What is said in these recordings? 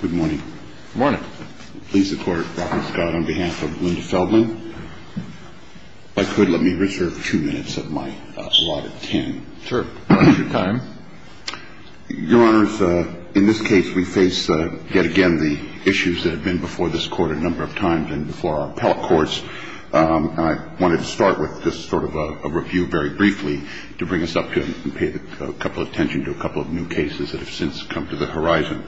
Good morning. Good morning. Please support Robert Scott on behalf of Linda Feldman. If I could, let me reserve two minutes of my allotted time. Sure. Your time. Your Honors, in this case we face yet again the issues that have been before this Court a number of times and before our appellate courts. And I wanted to start with just sort of a review very briefly to bring us up to and pay a couple of attention to a couple of new cases that have since come to the horizon.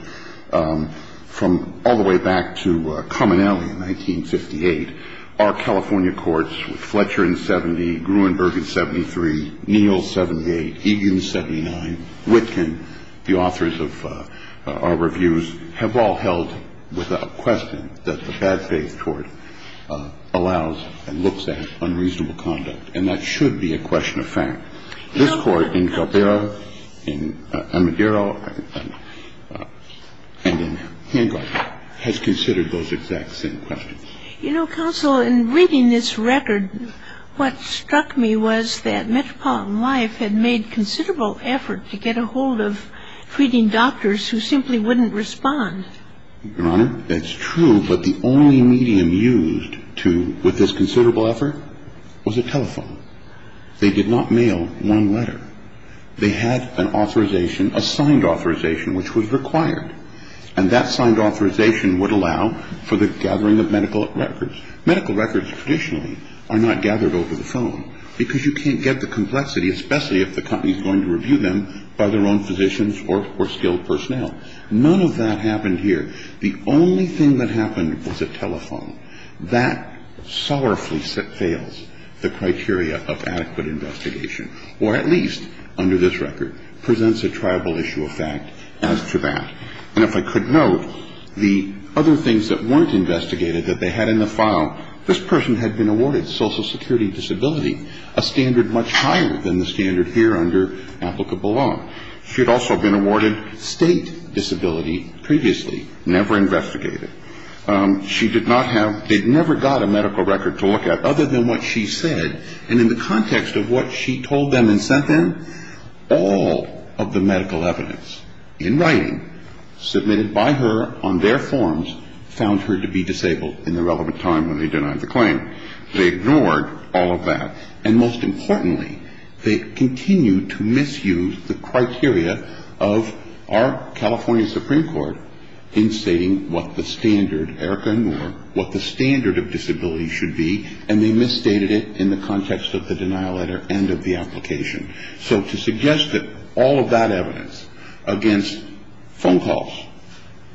From all the way back to Cominelli in 1958, our California courts, Fletcher in 70, Gruenberg in 73, Neal 78, Egan 79, Witkin, the authors of our reviews, have all held without question that the bad faith court allows and looks at unreasonable conduct. And that should be a question of fact. This Court in Caldera, in Amadero, and in Hancock has considered those exact same questions. You know, counsel, in reading this record, what struck me was that Metropolitan Life had made considerable effort to get a hold of treating doctors who simply wouldn't respond. Your Honor, that's true. But the only medium used to, with this considerable effort, was a telephone. They did not mail one letter. They had an authorization, a signed authorization, which was required. And that signed authorization would allow for the gathering of medical records. Medical records traditionally are not gathered over the phone because you can't get the complexity, especially if the company is going to review them by their own physicians or skilled personnel. None of that happened here. The only thing that happened was a telephone. That sorrowfully fails the criteria of adequate investigation, or at least under this record presents a triable issue of fact as to that. And if I could note, the other things that weren't investigated that they had in the file, this person had been awarded social security disability, a standard much higher than the standard here under applicable law. She had also been awarded state disability previously, never investigated. She did not have they'd never got a medical record to look at other than what she said. And in the context of what she told them and sent them, all of the medical evidence in writing submitted by her on their forms found her to be disabled in the relevant time when they denied the claim. They ignored all of that. And most importantly, they continued to misuse the criteria of our California Supreme Court in stating what the standard, Erica and Noor, what the standard of disability should be, and they misstated it in the context of the denial letter and of the application. So to suggest that all of that evidence against phone calls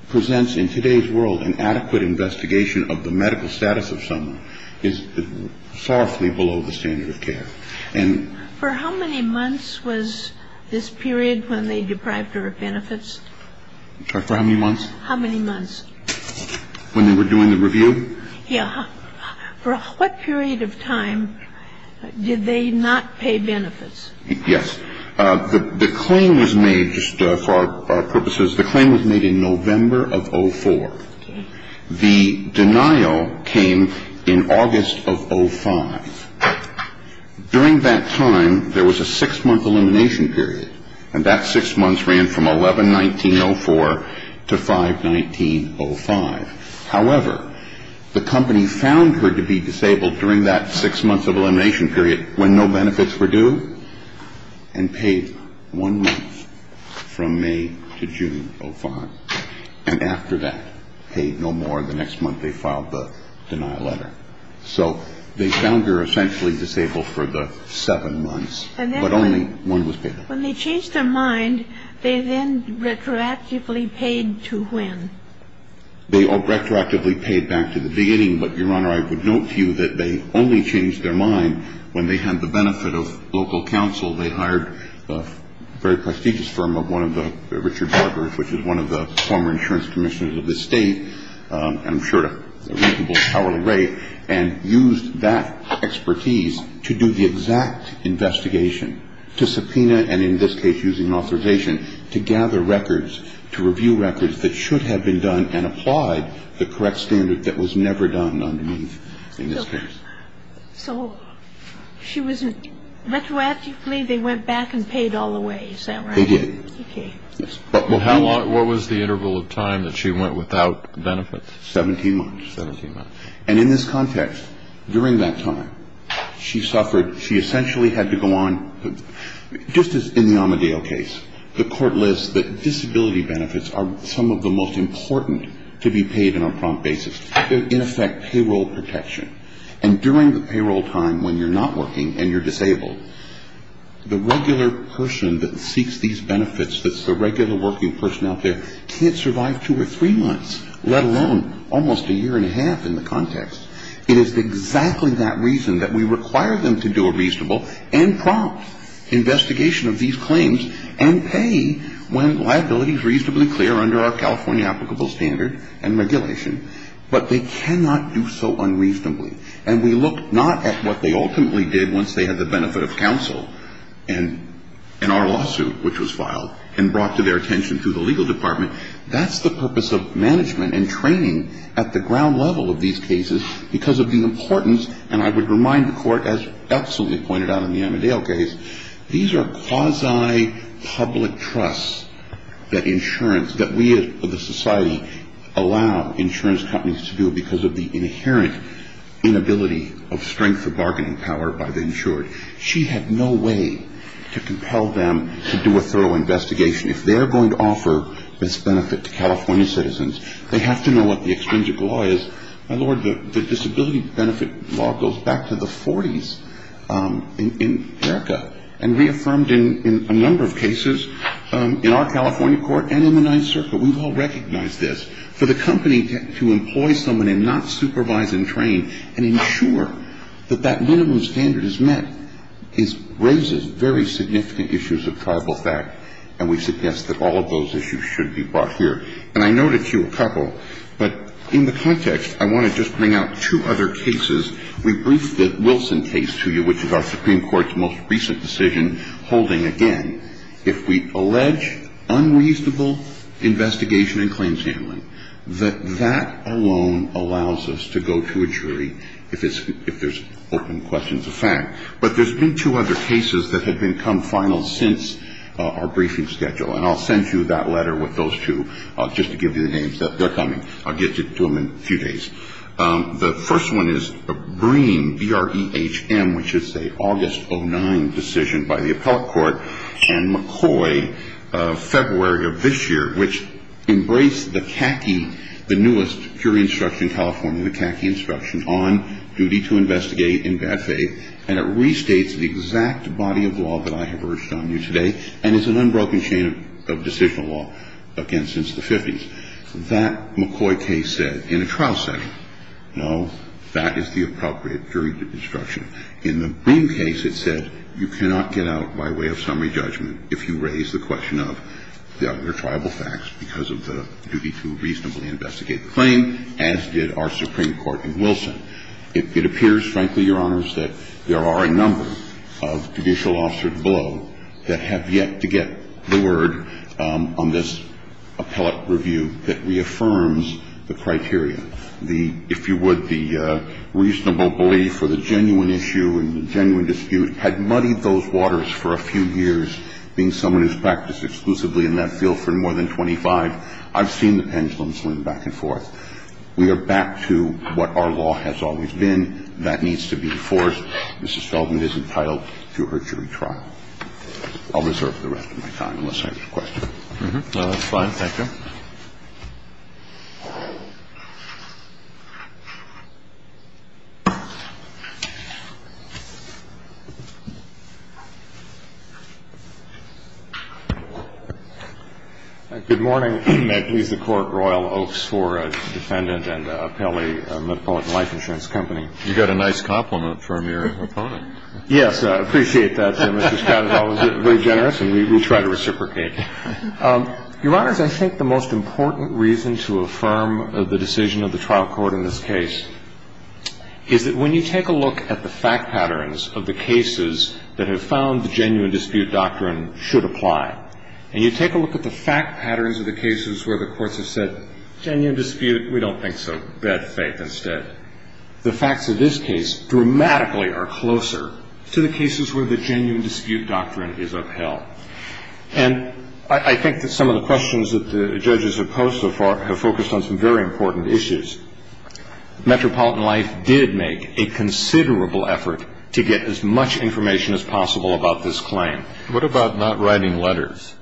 presents in today's world an adequate investigation of the medical status of someone who has a disability is far from the standard of care. And for how many months was this period when they deprived her of benefits? For how many months? How many months? When they were doing the review? Yeah. For what period of time did they not pay benefits? Yes. The claim was made, just for our purposes, the claim was made in November of 04. The denial came in August of 05. During that time, there was a six-month elimination period, and that six months ran from 11-19-04 to 5-19-05. However, the company found her to be disabled during that six months of elimination period when no benefits were due and paid one month from May to June 05. And after that, paid no more. The next month, they filed the denial letter. So they found her essentially disabled for the seven months, but only one was paid. When they changed their mind, they then retroactively paid to when? They retroactively paid back to the beginning. But, Your Honor, I would note to you that they only changed their mind when they had the benefit of local counsel. They hired a very prestigious firm of one of the Richard Barkers, which is one of the former insurance commissioners of this state, and I'm sure at a reasonable hourly rate, and used that expertise to do the exact investigation, to subpoena, and in this case using authorization, to gather records, to review records that should have been done and applied the correct standard that was never done underneath in this case. So she was retroactively, they went back and paid all the way. Is that right? They did. Okay. What was the interval of time that she went without benefits? 17 months. 17 months. And in this context, during that time, she suffered, she essentially had to go on, just as in the Amedeo case, the court lists that disability benefits are some of the most important to be paid on a prompt basis. In effect, payroll protection. And during the payroll time when you're not working and you're disabled, the regular person that seeks these benefits that's the regular working person out there can't survive two or three months, let alone almost a year and a half in the context. It is exactly that reason that we require them to do a reasonable and prompt investigation of these claims and pay when liability is reasonably clear under our California applicable standard and regulation. But they cannot do so unreasonably. And we look not at what they ultimately did once they had the benefit of counsel in our lawsuit, which was filed and brought to their attention through the legal department. That's the purpose of management and training at the ground level of these cases because of the importance, and I would remind the court, as absolutely pointed out in the Amedeo case, these are quasi-public trusts that insurance, that we as a society allow insurance companies to do because of the inherent inability of strength of bargaining power by the insured. She had no way to compel them to do a thorough investigation. If they're going to offer this benefit to California citizens, they have to know what the extrinsic law is. My Lord, the disability benefit law goes back to the 40s in America and reaffirmed in a number of cases in our California court and in the Ninth Circle. We've all recognized this. For the company to employ someone and not supervise and train and ensure that that minimum standard is met raises very significant issues of tribal fact, and we suggest that all of those issues should be brought here. And I noted to you a couple, but in the context, I want to just bring out two other cases. We briefed the Wilson case to you, which is our Supreme Court's most recent decision, holding again if we allege unreasonable investigation and claims handling, that that alone allows us to go to a jury if there's open questions of fact. But there's been two other cases that have become final since our briefing schedule, and I'll send you that letter with those two just to give you the names. They're coming. I'll get to them in a few days. The first one is Breen, B-R-E-H-M, which is an August 2009 decision by the appellate court, and McCoy, February of this year, which embraced the CACI, the newest jury instruction in California, the CACI instruction on duty to investigate in bad faith, and it restates the exact body of law that I have urged on you today and is an unbroken chain of decisional law, again, since the 50s. That McCoy case said in a trial setting, no, that is the appropriate jury instruction. In the Breen case, it said you cannot get out by way of summary judgment if you raise the question of the other triable facts because of the duty to reasonably investigate the claim, as did our Supreme Court in Wilson. It appears, frankly, Your Honors, that there are a number of judicial officers below that have yet to get the word on this appellate review that reaffirms the criteria. If you would, the reasonable belief or the genuine issue and the genuine dispute had muddied those waters for a few years, being someone who's practiced exclusively in that field for more than 25. I've seen the pendulum swing back and forth. We are back to what our law has always been. That needs to be enforced. Mrs. Feldman is entitled to her jury trial. I'll reserve the rest of my time unless I have a question. No, that's fine. Thank you. I'll take the phone. I'll call the phone. I'm going to call the phone. Okay. Thank you. Okay. Thank you. Thank you. Good morning. Please accord royal oaks for defendant and appellee of Metropolitan Life Insurance Company. You got a nice compliment from your opponent. Yes. I appreciate that. Mr. Scott is always very generous, and we try to reciprocate. Your Honors, I think the most important reason to affirm the decision of the trial court in this case is that when you take a look at the fact patterns of the cases that have found the genuine dispute doctrine should apply, and you take a look at the fact patterns of the cases where the courts have said genuine dispute, we don't see the facts of this case dramatically are closer to the cases where the genuine dispute doctrine is upheld. And I think that some of the questions that the judges have posed have focused on some very important issues. Metropolitan Life did make a considerable effort to get as much information as possible about this claim. What about not writing letters?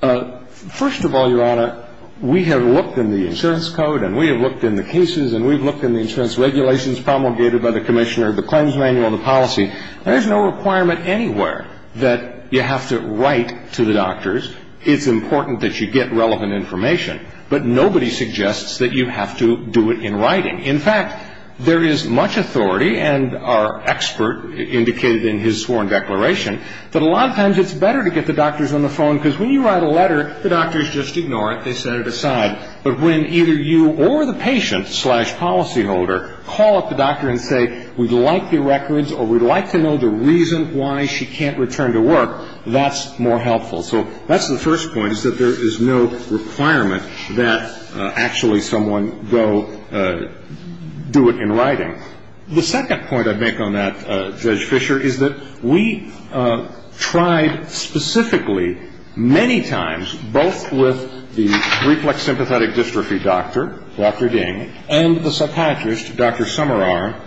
First of all, Your Honor, we have looked in the insurance code, and we have looked in the cases, and we have looked in the insurance regulations promulgated by the commissioner, the claims manual, and the policy. There is no requirement anywhere that you have to write to the doctors. It's important that you get relevant information. But nobody suggests that you have to do it in writing. In fact, there is much authority, and our expert indicated in his sworn declaration, that a lot of times it's better to get the doctors on the phone because when you write a letter, the doctors just ignore it. They set it aside. But when either you or the patient slash policyholder call up the doctor and say, we'd like your records or we'd like to know the reason why she can't return to work, that's more helpful. So that's the first point, is that there is no requirement that actually someone go do it in writing. The second point I'd make on that, Judge Fisher, is that we tried specifically many times, both with the reflex sympathetic dystrophy doctor, Dr. Ding, and the psychiatrist, Dr. Summerar,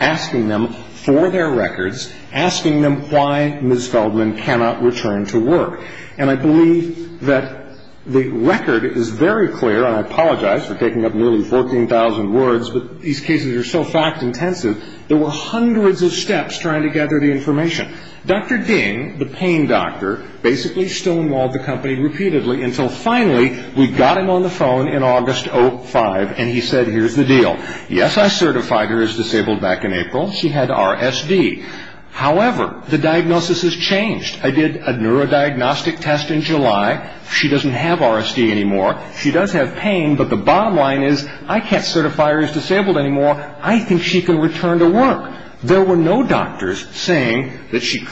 asking them for their records, asking them why Ms. Feldman cannot return to work. And I believe that the record is very clear, and I apologize for taking up nearly 14,000 words, but these cases are so fact-intensive, there were hundreds of steps trying to gather the information. Dr. Ding, the pain doctor, basically stonewalled the company repeatedly until finally we got him on the phone in August 2005, and he said, here's the deal. Yes, I certified her as disabled back in April. She had RSD. However, the diagnosis has changed. I did a neurodiagnostic test in July. She doesn't have RSD anymore. She does have pain, but the bottom line is, I can't certify her as disabled anymore. I think she can return to work. There were no doctors saying that she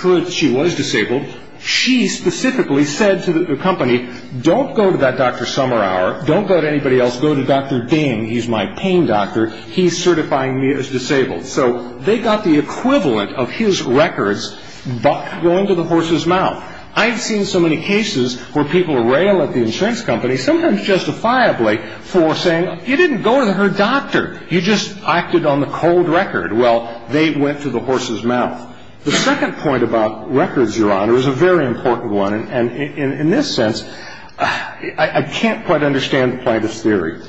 was disabled. She specifically said to the company, don't go to that Dr. Summerar. Don't go to anybody else. Go to Dr. Ding. He's my pain doctor. He's certifying me as disabled. So they got the equivalent of his records going to the horse's mouth. I've seen so many cases where people rail at the insurance company, sometimes justifiably, for saying, you didn't go to her doctor. You just acted on the cold record. Well, they went to the horse's mouth. The second point about records, Your Honor, is a very important one. And in this sense, I can't quite understand Plaintiff's theory.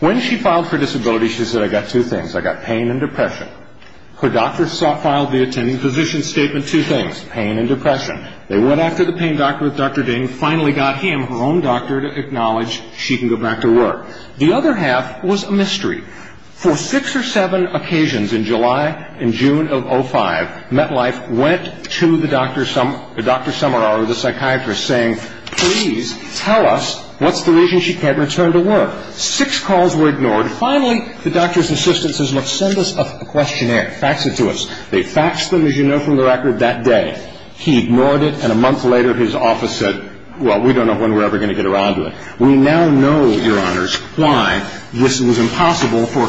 When she filed for disability, she said, I got two things. I got pain and depression. Her doctor filed the attending physician's statement, two things, pain and depression. They went after the pain doctor with Dr. Ding, finally got him, her own doctor, The other half was a mystery. For six or seven occasions in July and June of 2005, MetLife went to the Dr. Summerar, the psychiatrist, saying, please tell us what's the reason she can't return to work. Six calls were ignored. Finally, the doctor's assistant says, look, send us a questionnaire. Fax it to us. They faxed them, as you know from the record, that day. He ignored it, and a month later his office said, well, we don't know when we're ever going to get around to it. We now know, Your Honors, why this was impossible for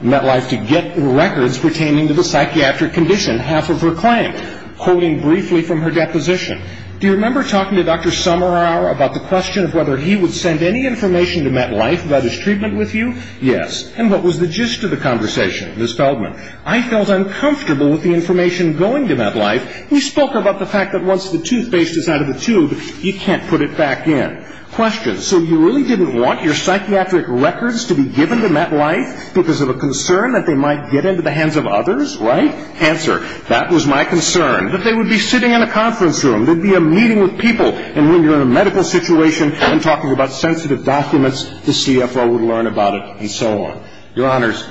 MetLife to get records pertaining to the psychiatric condition, half of her claim, quoting briefly from her deposition. Do you remember talking to Dr. Summerar about the question of whether he would send any information to MetLife about his treatment with you? Yes. And what was the gist of the conversation, Ms. Feldman? I felt uncomfortable with the information going to MetLife. We spoke about the fact that once the toothpaste is out of the tube, you can't put it back in. Question, so you really didn't want your psychiatric records to be given to MetLife because of a concern that they might get into the hands of others, right? Answer, that was my concern, that they would be sitting in a conference room, there would be a meeting with people, and when you're in a medical situation and talking about sensitive documents, the CFO would learn about it and so on. Your Honors,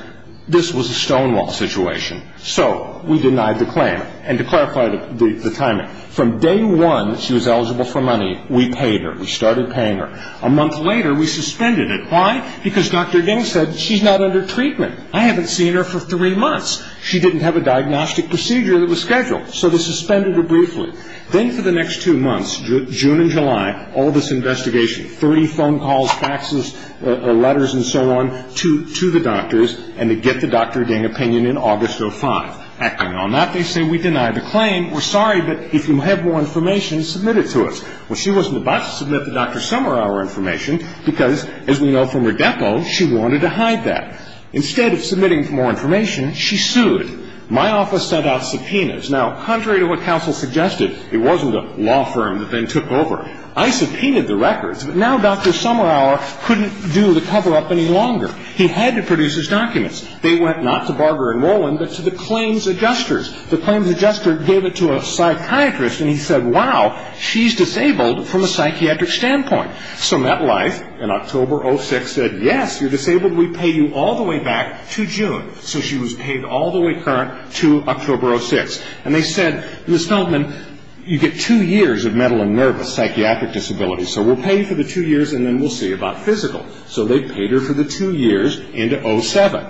this was a stonewall situation. So we denied the claim. And to clarify the timing, from day one, she was eligible for money. We paid her. We started paying her. A month later, we suspended it. Why? Because Dr. Ding said, she's not under treatment. I haven't seen her for three months. She didn't have a diagnostic procedure that was scheduled. So they suspended her briefly. Then for the next two months, June and July, all this investigation, 30 phone calls, faxes, letters and so on to the doctors, and they get the Dr. Ding opinion in August of 2005. Acting on that, they say, we deny the claim. We're sorry, but if you have more information, submit it to us. Well, she wasn't about to submit the Dr. Summerauer information because, as we know from her depo, she wanted to hide that. Instead of submitting more information, she sued. My office sent out subpoenas. Now, contrary to what counsel suggested, it wasn't a law firm that then took over. I subpoenaed the records, but now Dr. Summerauer couldn't do the cover-up any longer. He had to produce his documents. They went not to Barger and Rowland, but to the claims adjusters. The claims adjuster gave it to a psychiatrist, and he said, wow, she's disabled from a psychiatric standpoint. So MetLife, in October of 2006, said, yes, you're disabled. We pay you all the way back to June. So she was paid all the way current to October of 2006. And they said, Ms. Feldman, you get two years of mental and nervous psychiatric disability, so we'll pay you for the two years, and then we'll see about physical. So they paid her for the two years into 2007.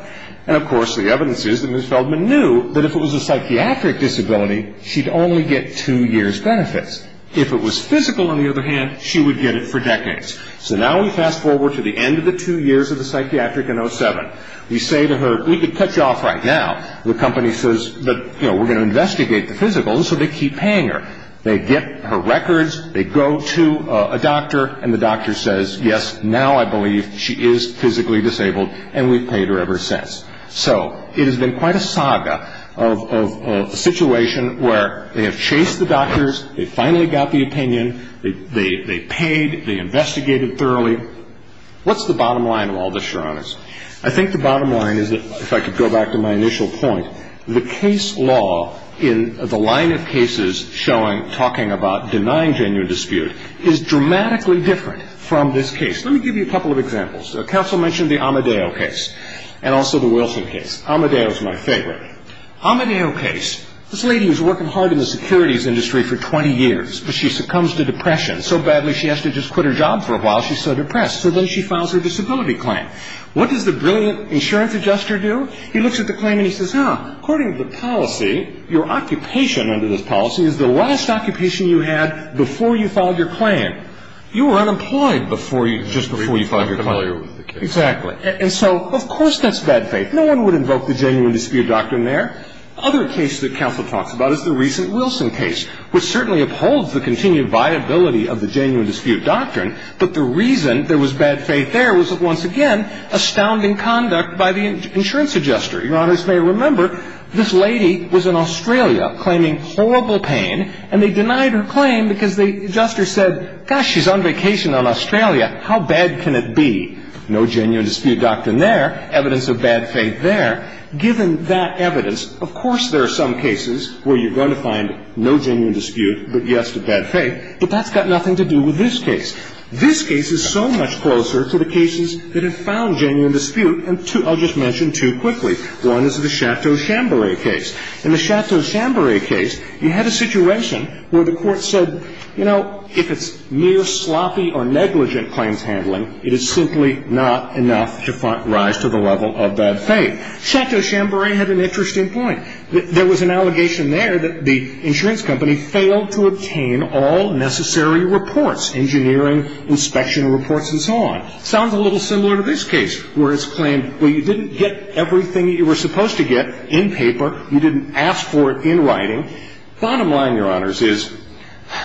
And, of course, the evidence is that Ms. Feldman knew that if it was a psychiatric disability, she'd only get two years' benefits. If it was physical, on the other hand, she would get it for decades. So now we fast-forward to the end of the two years of the psychiatric in 2007. We say to her, we could cut you off right now. The company says, but, you know, we're going to investigate the physical, and so they keep paying her. They get her records, they go to a doctor, and the doctor says, yes, now I believe she is physically disabled, and we've paid her ever since. So it has been quite a saga of a situation where they have chased the case, finally got the opinion, they paid, they investigated thoroughly. What's the bottom line of all this, Your Honors? I think the bottom line is that, if I could go back to my initial point, the case law in the line of cases showing, talking about, denying genuine dispute is dramatically different from this case. Let me give you a couple of examples. Counsel mentioned the Amadeo case and also the Wilson case. Amadeo is my favorite. Amadeo case, this lady was working hard in the securities industry for 20 years, but she succumbs to depression so badly she has to just quit her job for a while, she's so depressed. So then she files her disability claim. What does the brilliant insurance adjuster do? He looks at the claim and he says, huh, according to the policy, your occupation under this policy is the last occupation you had before you filed your claim. You were unemployed just before you filed your claim. Exactly. And so, of course that's bad faith. No one would invoke the genuine dispute doctrine there. Other case that counsel talks about is the recent Wilson case, which certainly upholds the continued viability of the genuine dispute doctrine, but the reason there was bad faith there was, once again, astounding conduct by the insurance adjuster. Your Honors may remember, this lady was in Australia claiming horrible pain, and they denied her claim because the adjuster said, gosh, she's on vacation in Australia, how bad can it be? No genuine dispute doctrine there. Evidence of bad faith there. Given that evidence, of course there are some cases where you're going to find no genuine dispute, but yes to bad faith, but that's got nothing to do with this case. This case is so much closer to the cases that have found genuine dispute, and I'll just mention two quickly. One is the Chateau Shamboree case. In the Chateau Shamboree case, you had a situation where the court said, you know, if it's mere sloppy or negligent claims handling, it is simply not enough to rise to the level of bad faith. Chateau Shamboree had an interesting point. There was an allegation there that the insurance company failed to obtain all necessary reports, engineering, inspection reports, and so on. Sounds a little similar to this case, where it's claimed, well, you didn't get everything that you were supposed to get in paper, you didn't ask for it in writing. Bottom line, Your Honors, is,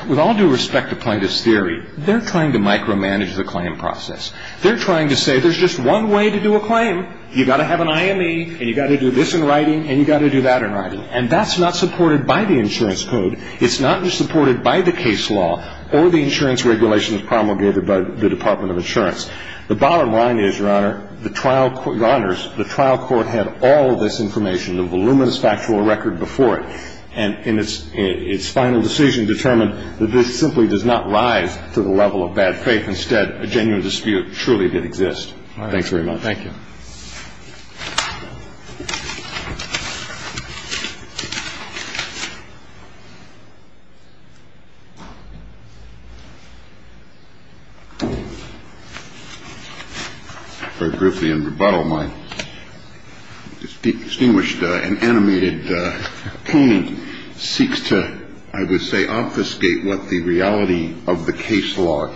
with all due respect to plaintiff's theory, they're trying to micromanage the claim process. They're trying to say there's just one way to do a claim. You've got to have an IME, and you've got to do this in writing, and you've got to do that in writing. And that's not supported by the insurance code. It's not supported by the case law or the insurance regulations promulgated by the Department of Insurance. The bottom line is, Your Honor, the trial court had all this information, the voluminous factual record before it, and its final decision determined that this case simply does not rise to the level of bad faith. Instead, a genuine dispute truly did exist. Thanks very much. Thank you. Very briefly in rebuttal, my distinguished and animated co-painter seeks to, I would say, obfuscate what the reality of the case law is. I would like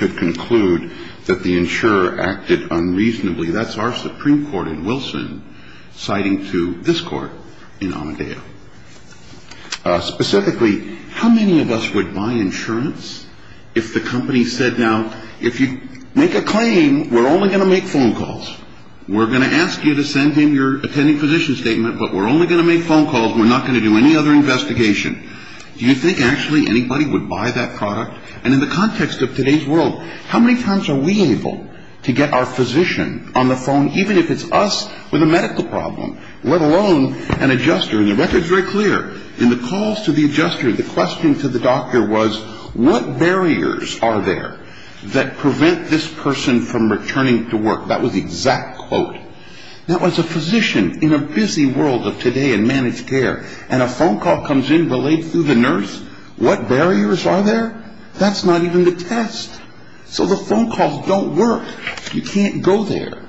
to conclude that the insurer acted unreasonably. That's our Supreme Court in Wilson citing to this Court in Amadeo. Specifically, how many of us would buy insurance if the company said, now, if you make a claim, we're only going to make phone calls. We're going to ask you to send in your attending physician statement, but we're only going to make phone calls. We're not going to do any other investigation. Do you think actually anybody would buy that product? And in the context of today's world, how many times are we able to get our physician on the phone, even if it's us with a medical problem, let alone an adjuster? And the record's very clear. In the calls to the adjuster, the question to the doctor was, what barriers are there that prevent this person from returning to work? That was the exact quote. Now, as a physician in a busy world of today in managed care, and a phone call comes in, relayed through the nurse, what barriers are there? That's not even the test. So the phone calls don't work. You can't go there.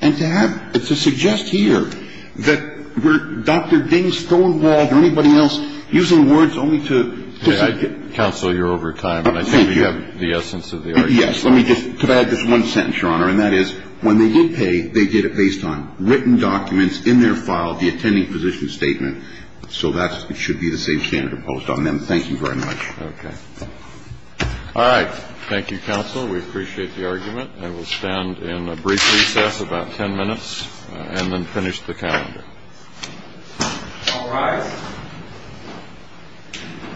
And to have to suggest here that we're Dr. Ding, Stonewall, or anybody else, using words only to dissent. Counsel, you're over time. Thank you. But I think you have the essence of the argument. Yes. Let me just add this one sentence, Your Honor, and that is, when they did pay, they did it based on written documents in their file, the attending physician statement. So that should be the same standard imposed on them. Thank you very much. Okay. All right. Thank you, Counsel. We appreciate the argument. And we'll stand in a brief recess, about ten minutes, and then finish the calendar. All rise. All rise. All rise. All rise.